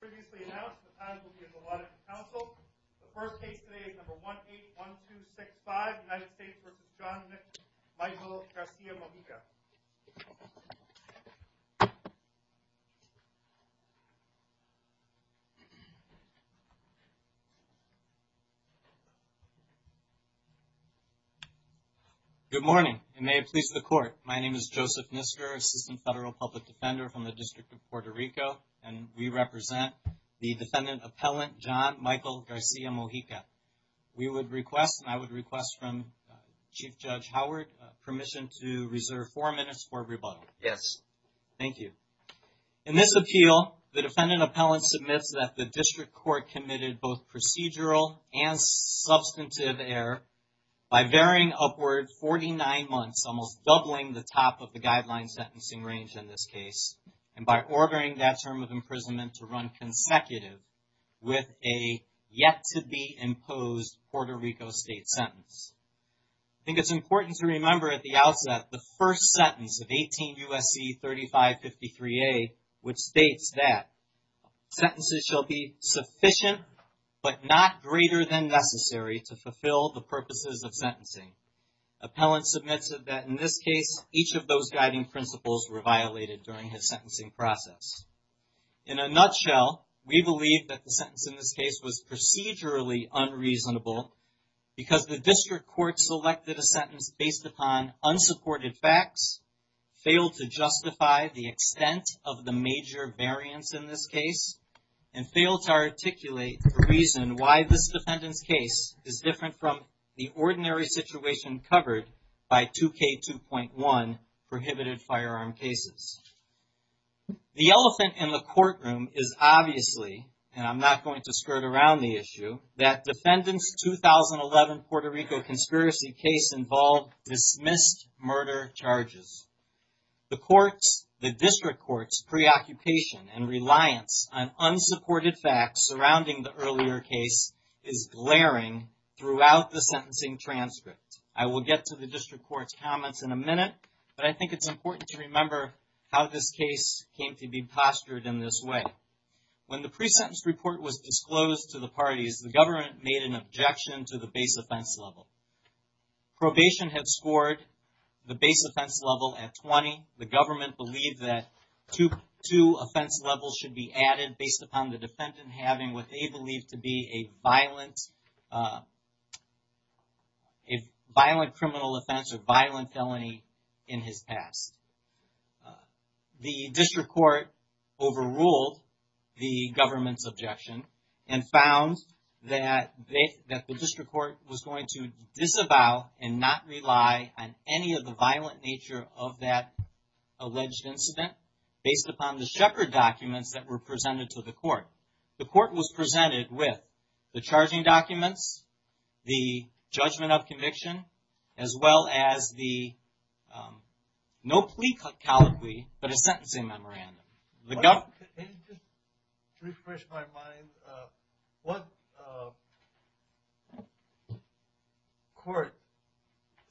previously announced the times will be as allotted to council the first case today is number one eight one two six five united states versus john michael garcia-mojica good morning and may it please the court my name is joseph nisser assistant federal public defender from the district of puerto rico and we represent the defendant appellant john michael garcia-mojica we would request and i would request from chief judge howard permission to reserve four minutes for rebuttal yes thank you in this appeal the defendant appellant submits that the district court committed both procedural and substantive error by varying upward 49 months almost doubling the top of the guideline sentencing range in this case and by ordering that term of imprisonment to run consecutive with a yet to be imposed puerto rico state sentence i think it's important to remember at the outset the first sentence of 18 usc 35 53a which states that sentences shall be sufficient but not greater than necessary to fulfill the purposes of sentencing appellant submitted that in this case each of those guiding principles were violated during his sentencing process in a nutshell we believe that the sentence in this case was procedurally unreasonable because the district court selected a sentence based upon unsupported facts failed to justify the extent of the major variance in this case and failed to articulate the reason why this situation covered by 2k 2.1 prohibited firearm cases the elephant in the courtroom is obviously and i'm not going to skirt around the issue that defendants 2011 puerto rico conspiracy case involved dismissed murder charges the courts the district court's preoccupation and reliance on unsupported facts surrounding the earlier case is glaring throughout the sentencing transcript i will get to the district court's comments in a minute but i think it's important to remember how this case came to be postured in this way when the pre-sentence report was disclosed to the parties the government made an objection to the base offense level probation had scored the base offense level at 20 the government believed that to two offense levels should be added based upon the defendant having what they believe to be a violent uh a violent criminal offense or violent felony in his past the district court overruled the government's objection and found that they that the district court was going to disavow and not rely on any of the violent nature of that alleged incident based upon the shepherd documents that were presented to the court the court was presented with the charging documents the judgment of conviction as well as the um no plea colloquy but a sentencing memorandum just to refresh my mind uh what uh court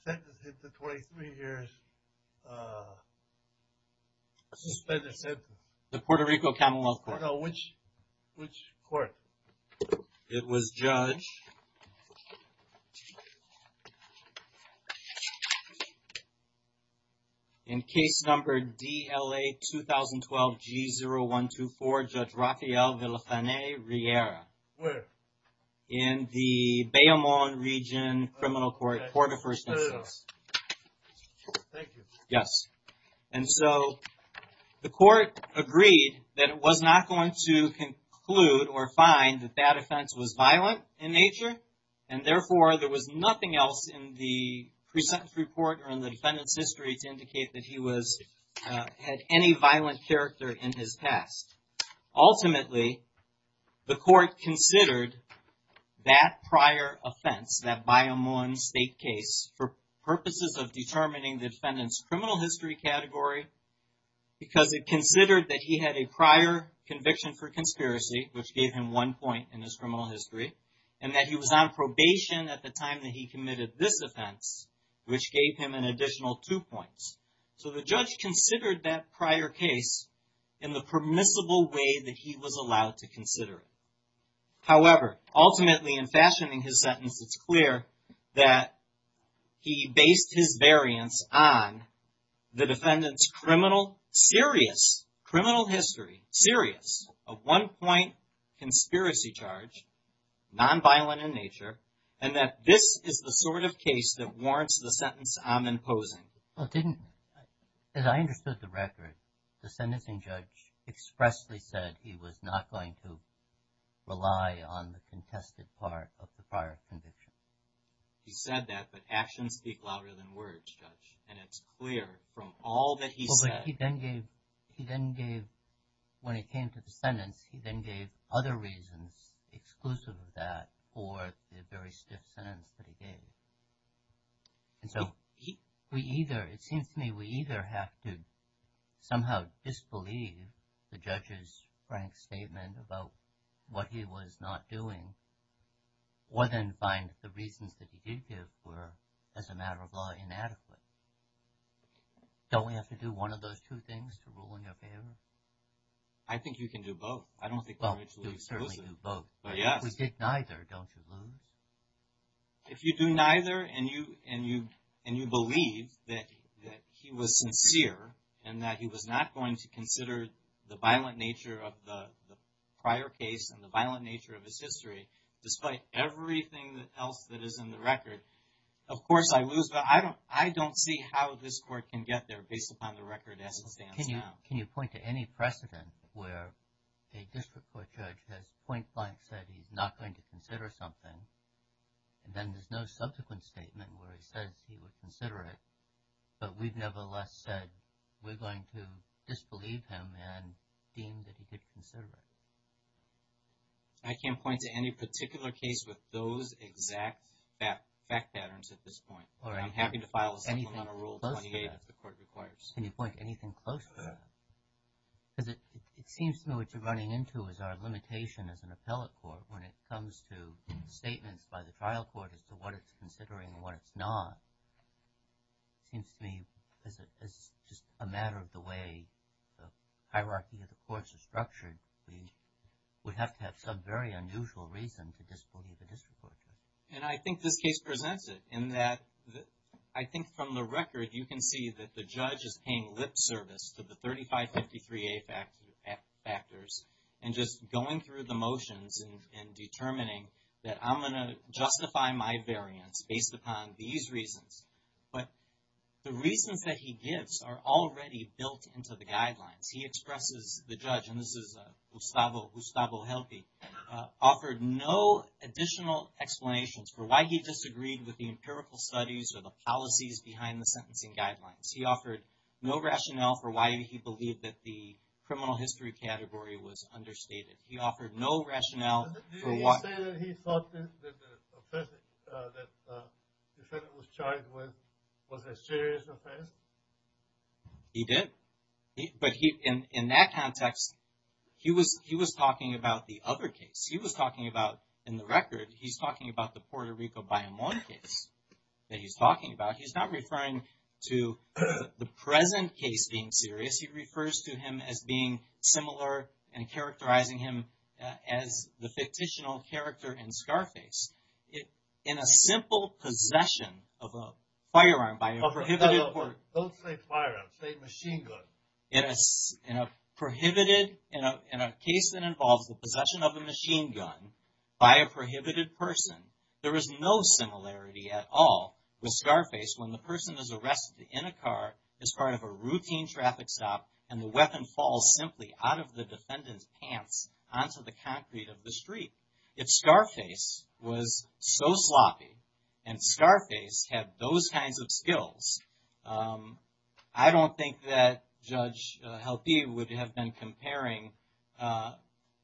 sentence hit the 23 years uh the puerto rico camelot no which which court it was judged to in case number dla 2012 g 0124 judge rafael villafane riera where in the beaumont region criminal court court of first instance thank you yes and so the court agreed that it was not going to conclude or find that that offense was violent in nature and therefore there was nothing else in the pre-sentence report or in the defendant's history to indicate that he was had any violent character in his past ultimately the court considered that prior offense that beaumont state case for purposes of determining the defendant's criminal history category because it considered that he had a prior conviction for conspiracy which gave him one point in his criminal history and that he was on probation at the time that he committed this offense which gave him an additional two points so the judge considered that prior case in the permissible way that he was allowed to consider it however ultimately in fashioning his sentence it's clear that he based his variance on the defendant's criminal serious criminal history serious a one-point conspiracy charge non-violent in nature and that this is the sort of case that warrants the sentence i'm imposing well it didn't as i understood the record the sentencing judge expressly said he was not going to rely on the contested part of the prior condition he said that but actions speak louder than words judge and it's clear from all that he said he then gave he then gave when he came to the sentence he then gave other reasons exclusive of that for the very stiff sentence that he gave and so he we either it seems to me we either have to somehow disbelieve the judge's frank statement about what he was not doing or then find the reasons that he did give were as a matter of law inadequate don't we have to do one of those two things to rule in your favor i think you can do both i don't think well you certainly do both but yes we did neither don't lose if you do neither and you and you and you believe that that he was sincere and that he was not going to consider the violent nature of the prior case and the violent nature of his history despite everything else that is in the record of course i lose but i don't i don't see how this court can get there based upon the record as it stands now can you point to any precedent where a district court judge has point blank said he's not going to consider something and then there's no subsequent statement where he says he would consider it but we've nevertheless said we're going to disbelieve him and deem that he did consider it i can't point to any particular case with those exact fact patterns at this point or i'm happy on a rule 28 if the court requires can you point anything close to that because it it seems to me what you're running into is our limitation as an appellate court when it comes to statements by the trial court as to what it's considering what it's not seems to me as a as just a matter of the way the hierarchy of the courts are structured we would have to have some very unusual reason district court and i think this case presents it in that i think from the record you can see that the judge is paying lip service to the 3553a factors and just going through the motions and determining that i'm going to justify my variance based upon these reasons but the reasons that he gives are already built into the guidelines he expresses the judge and this is a gustavo gustavo offered no additional explanations for why he disagreed with the empirical studies or the policies behind the sentencing guidelines he offered no rationale for why he believed that the criminal history category was understated he offered no rationale for why he thought that the defendant was charged with was a serious offense he did but he in in that context he was he was talking about the other case he was talking about in the record he's talking about the puerto rico bayamon case that he's talking about he's not referring to the present case being serious he refers to him as being similar and characterizing him as the fictitional character in scarface it in a simple possession of a firearm by a prohibited don't say firearm machine gun it is in a prohibited in a in a case that involves the possession of a machine gun by a prohibited person there is no similarity at all with scarface when the person is arrested in a car as part of a routine traffic stop and the weapon falls simply out of the defendant's pants onto the concrete of the street if scarface was so sloppy and scarface had those kinds of skills um i don't think that judge helpee would have been comparing uh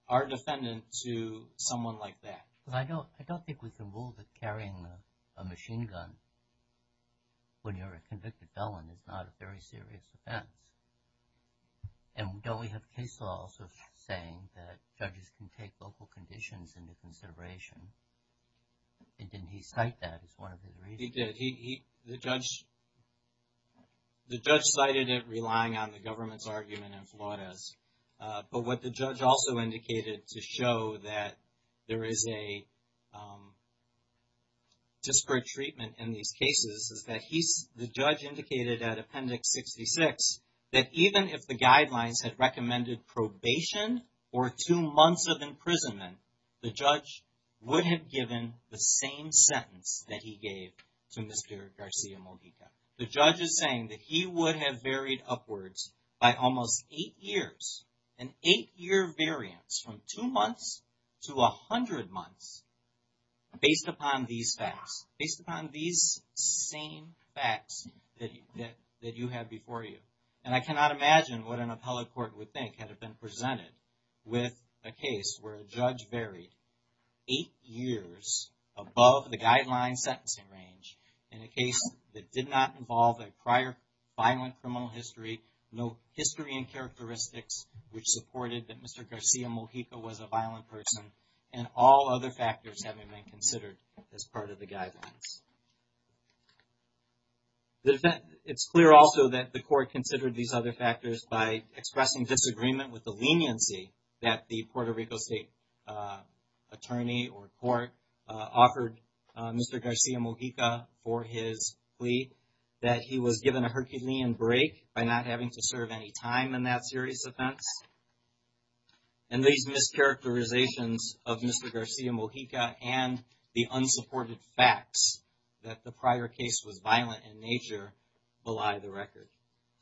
our defendant to someone like that because i don't i don't think we can rule that carrying a machine gun when you're a convicted felon is not a very serious offense and don't we have case laws of saying that judges can take local conditions into consideration and didn't he cite that as one of he did he the judge the judge cited it relying on the government's argument in flautas but what the judge also indicated to show that there is a um disparate treatment in these cases is that he's the judge indicated at appendix 66 that even if the guidelines had recommended probation or two months of imprisonment the judge would have given the same sentence that he gave to mr garcia mojica the judge is saying that he would have varied upwards by almost eight years an eight-year variance from two months to a hundred months based upon these facts based upon these same facts that that you have before you and i cannot imagine what an appellate court would think had it been presented with a case where a judge varied eight years above the guideline sentencing range in a case that did not involve a prior violent criminal history no history and characteristics which supported that mr garcia mojica was a violent person and all other factors having been considered as part of the guidelines the defense it's clear also that the court considered these other factors by uh attorney or court offered mr garcia mojica for his plea that he was given a herculean break by not having to serve any time in that serious offense and these mischaracterizations of mr garcia mojica and the unsupported facts that the prior case was violent in nature belie the record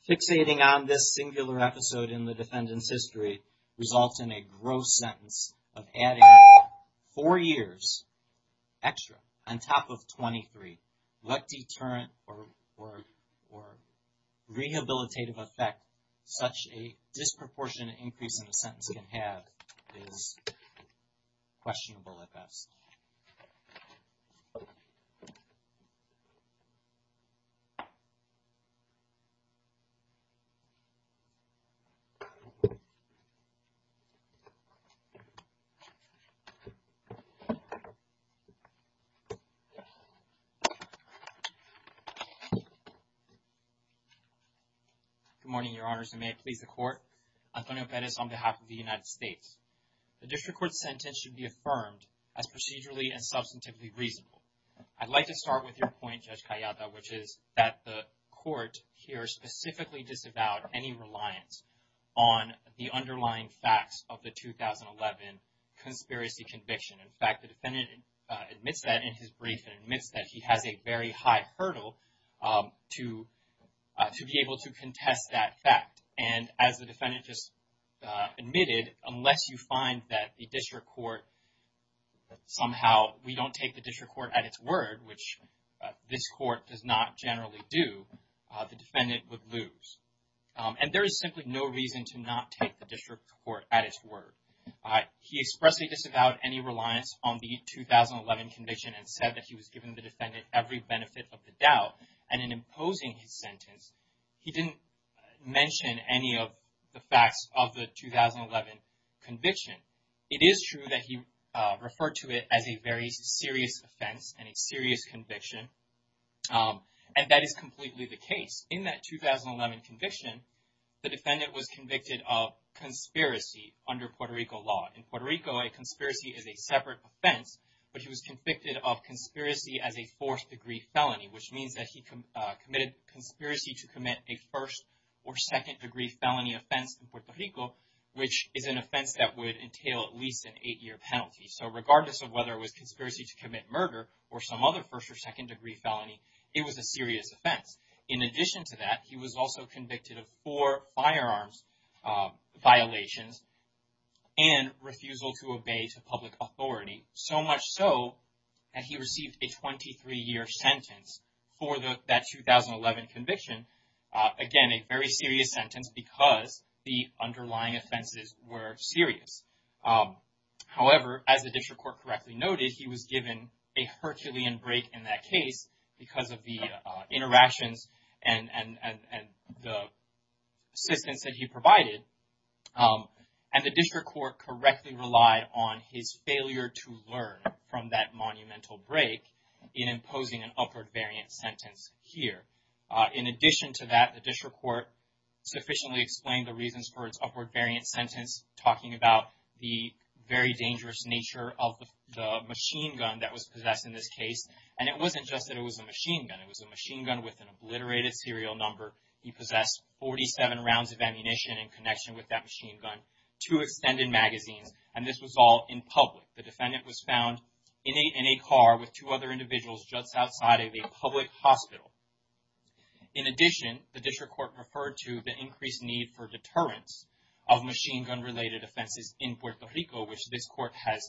fixating on this singular episode in the defendant's history results in a gross sentence of adding four years extra on top of 23 let deterrent or or or rehabilitative effect such a disproportionate increase in the sentence can have is questionable at best good morning your honors and may it please the court i don't know if that is on behalf of the as procedurally and substantively reasonable i'd like to start with your point judge callada which is that the court here specifically disavowed any reliance on the underlying facts of the 2011 conspiracy conviction in fact the defendant admits that in his brief and admits that he has a very high hurdle um to uh to be able to contest that fact and as the defendant just uh admitted unless you find that the district court somehow we don't take the district court at its word which this court does not generally do the defendant would lose and there is simply no reason to not take the district court at its word he expressly disavowed any reliance on the 2011 conviction and said that he was giving the defendant every benefit of the doubt and in imposing his sentence he didn't mention any of the facts of the 2011 conviction it is true that he uh referred to it as a very serious offense and a serious conviction um and that is completely the case in that 2011 conviction the defendant was convicted of conspiracy under puerto rico law in puerto rico a conspiracy is a separate offense but he was convicted of conspiracy as a fourth degree felony which means that he committed conspiracy to commit a first or second degree felony offense in puerto rico which is an offense that would entail at least an eight-year penalty so regardless of whether it was conspiracy to commit murder or some other first or second degree felony it was a serious offense in addition to that he was also convicted of four firearms violations and refusal to obey to public authority so much so that he received a 23-year sentence for the that 2011 conviction again a very serious sentence because the underlying offenses were serious however as the district court correctly noted he was given a herculean break in that case because of the on his failure to learn from that monumental break in imposing an upward variant sentence here in addition to that the district court sufficiently explained the reasons for its upward variant sentence talking about the very dangerous nature of the machine gun that was possessed in this case and it wasn't just that it was a machine gun it was a machine gun with an obliterated serial number he possessed 47 rounds of ammunition in connection with that two extended magazines and this was all in public the defendant was found in a in a car with two other individuals just outside of a public hospital in addition the district court referred to the increased need for deterrence of machine gun related offenses in puerto rico which this court has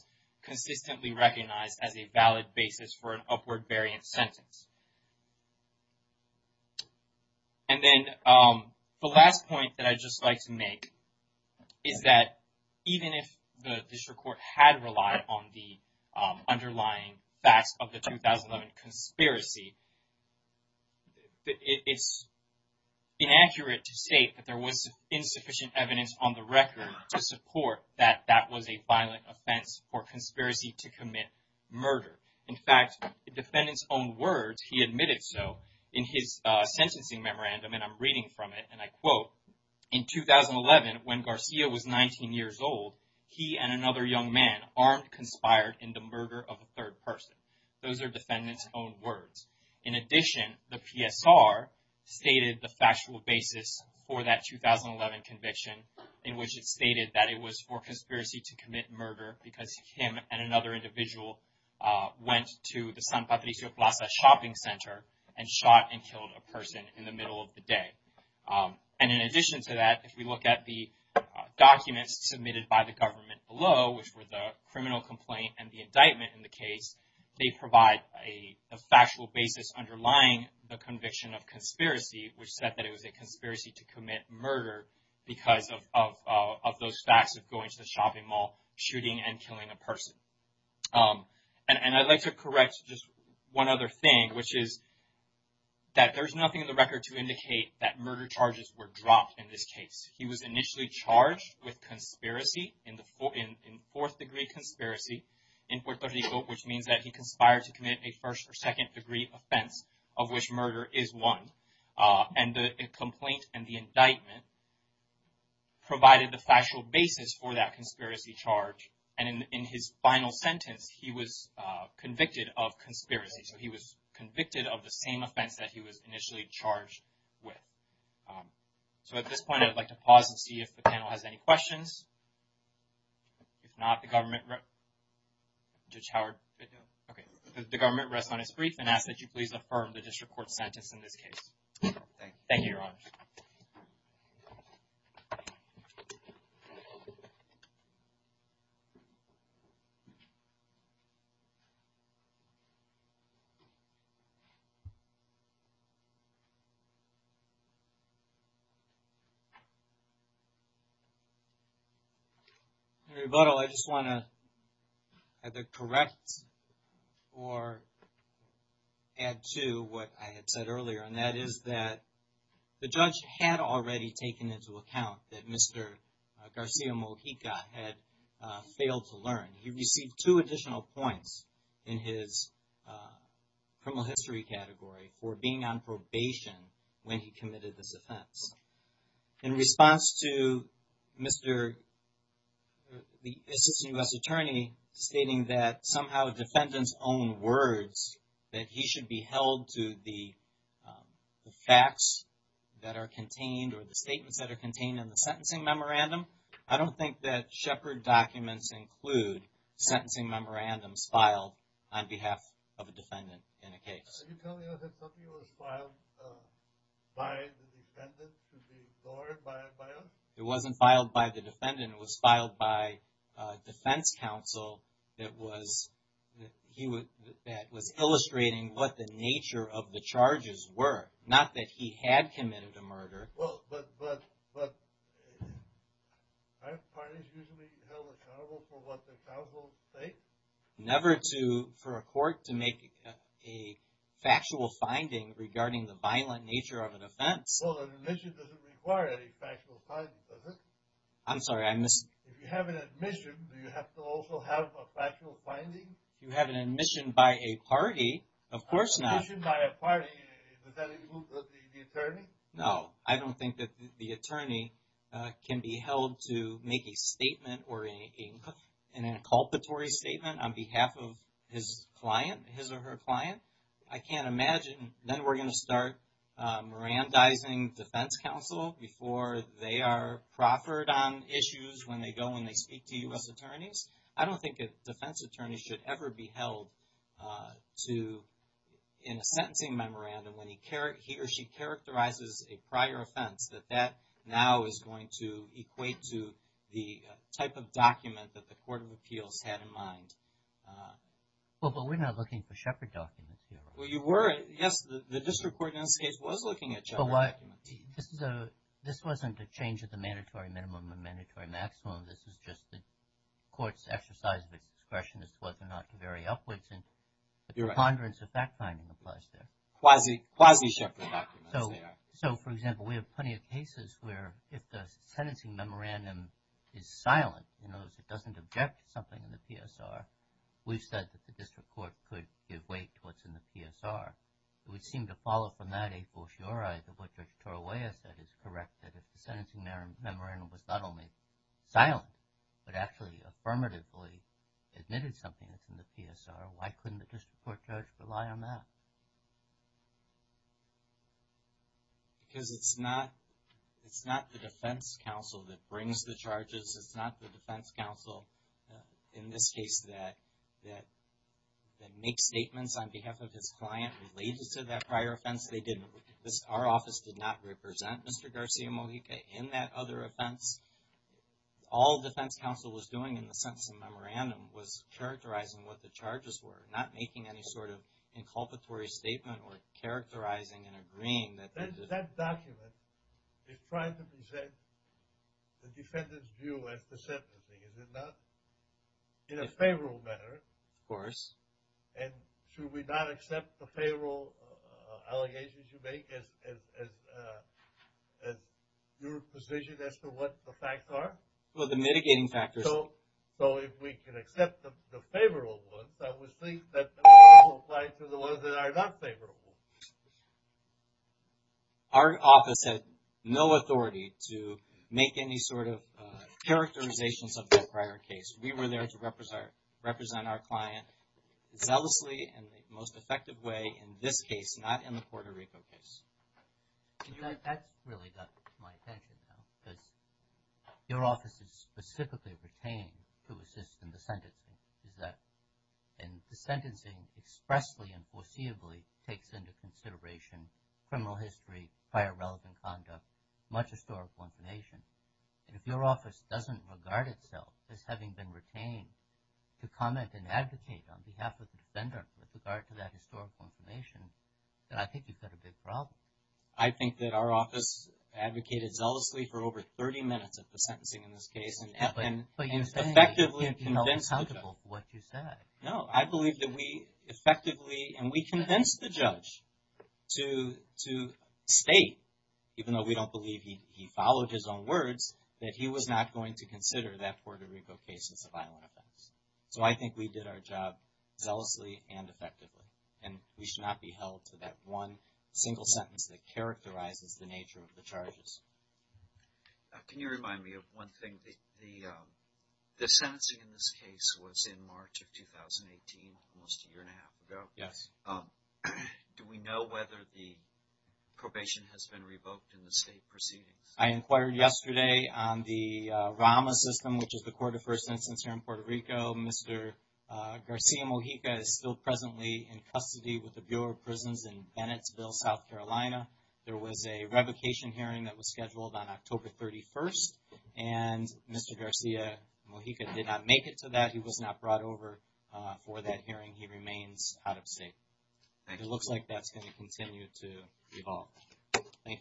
consistently recognized as a valid basis for an upward variant sentence and then the last point that i'd just like to make is that even if the district court had relied on the underlying facts of the 2011 conspiracy it's inaccurate to state that there was insufficient evidence on the record to support that that was a violent offense or conspiracy to commit murder in fact the defendant's own words he admitted so in his uh sentencing memorandum and i'm reading from it and i quote in 2011 when garcia was 19 years old he and another young man armed conspired in the murder of a third person those are defendants own words in addition the psr stated the factual basis for that 2011 conviction in which it stated that it was for uh went to the san patricio plaza shopping center and shot and killed a person in the middle of the day and in addition to that if we look at the documents submitted by the government below which were the criminal complaint and the indictment in the case they provide a factual basis underlying the conviction of conspiracy which said that it was a conspiracy to commit murder because of of those facts of going to the shopping mall shooting and killing a person um and i'd like to correct just one other thing which is that there's nothing in the record to indicate that murder charges were dropped in this case he was initially charged with conspiracy in the fourth degree conspiracy in puerto rico which means that he conspired to commit a first or second degree offense of which murder is one uh and the complaint and the sentence he was uh convicted of conspiracy so he was convicted of the same offense that he was initially charged with um so at this point i'd like to pause and see if the panel has any questions if not the government judge howard okay the government rests on his brief and ask that please affirm the district court sentence in this case thank you your honors you and rebuttal i just want to either correct or add to what i had said earlier and that is that the judge had already taken into account that mr garcia mojica had failed to learn he received two additional points in his uh criminal history category for being on probation when he committed this offense in response to mr the assistant u.s attorney stating that somehow defendants own words that he should be held to the facts that are contained or the statements that are contained in the sentencing memorandum i don't think that shepherd documents include sentencing memorandums filed on behalf of a defendant in a case are you telling us that something was filed by the defendant to be ignored by by us it wasn't filed by the defendant it was filed by uh defense counsel that was that he would that was illustrating what the nature of the charges were not that he had committed a murder well but but but five parties usually held accountable for what the counsel states never to for a court to make a factual finding regarding the violent nature of an offense well that admission doesn't require any factual findings does it i'm sorry i missed if you have an admission do you have to also have a factual finding you have an admission by a party of course not by a party is that the attorney no i don't think that the attorney can be held to make a statement or a an inculpatory statement on behalf of his client his or her client i can't imagine then we're going to start uh mirandizing defense counsel before they are proffered on issues when they go when they speak to u.s attorneys i don't think a defense attorney should ever be held uh to in a sentencing memorandum when he care he or she characterizes a prior offense that that now is going to equate to the type of document that the court of appeals had in mind well but we're not looking for shepherd documents well you were yes the district court in this case was looking at each other this is a this wasn't a change of the mandatory minimum and mandatory maximum this is just the court's exercise of its discretion as to whether or not to vary upwards and the preponderance of fact finding applies there quasi quasi so for example we have plenty of cases where if the sentencing memorandum is silent you know it doesn't object to something in the psr we've said that the district court could give weight to what's in the psr it would seem to follow from that a brochure either what dr toroya said is correct that if the sentencing memorandum was not only silent but actually affirmatively admitted something that's in the psr why couldn't the district court judge rely on that because it's not it's not the defense counsel that brings the charges it's not the defense counsel in this case that that that makes statements on behalf of his client related to that prior offense they didn't this our office did not represent mr garcia mojica in that other offense all defense counsel was doing in the sense of memorandum was characterizing what the charges were not making any sort of inculpatory statement or characterizing and agreeing that that document is trying to present the defendant's view as deceptive is it not in a favorable manner of course and should we not accept the payroll allegations you make as as your position as to what the facts are well the mitigating factors so so if we can accept the favorable ones i would think that applies to the ones that are not favorable our office had no authority to make any sort of uh characterizations of that prior case we were there to represent represent our client zealously and the most effective way in this case not in the puerto rico case that really got my attention now because your office is specifically retained to assist in the sentencing is that and the sentencing expressly and foreseeably takes into consideration criminal history prior relevant conduct much historical information and if your office doesn't regard itself as having been retained to comment and advocate on behalf of the defender with regard to that historical information then i think you've got a big problem i think that our office advocated zealously for over 30 minutes at the sentencing in this case and but you effectively convinced what you said no i believe that we effectively and we convinced the judge to to state even though we don't believe he he followed his own words that he was not going to consider that puerto rico cases of violent offense so i think we did our job zealously and effectively and we should not be held to that one single sentence that characterizes the nature of the charges can you remind me of one thing the um the sentencing in this case was in march of 2018 almost a year and a half ago yes do we know whether the probation has been revoked in the state proceedings i inquired yesterday on the rama system which is the court of first instance here in puerto rico mr uh garcia mojica is still presently in custody with the bureau of prisons in bennettsville south carolina there was a revocation hearing that was scheduled on october 31st and mr garcia mojica did not make it to that he was not brought over for that hearing he remains out of state and it looks like that's going to continue to evolve thank you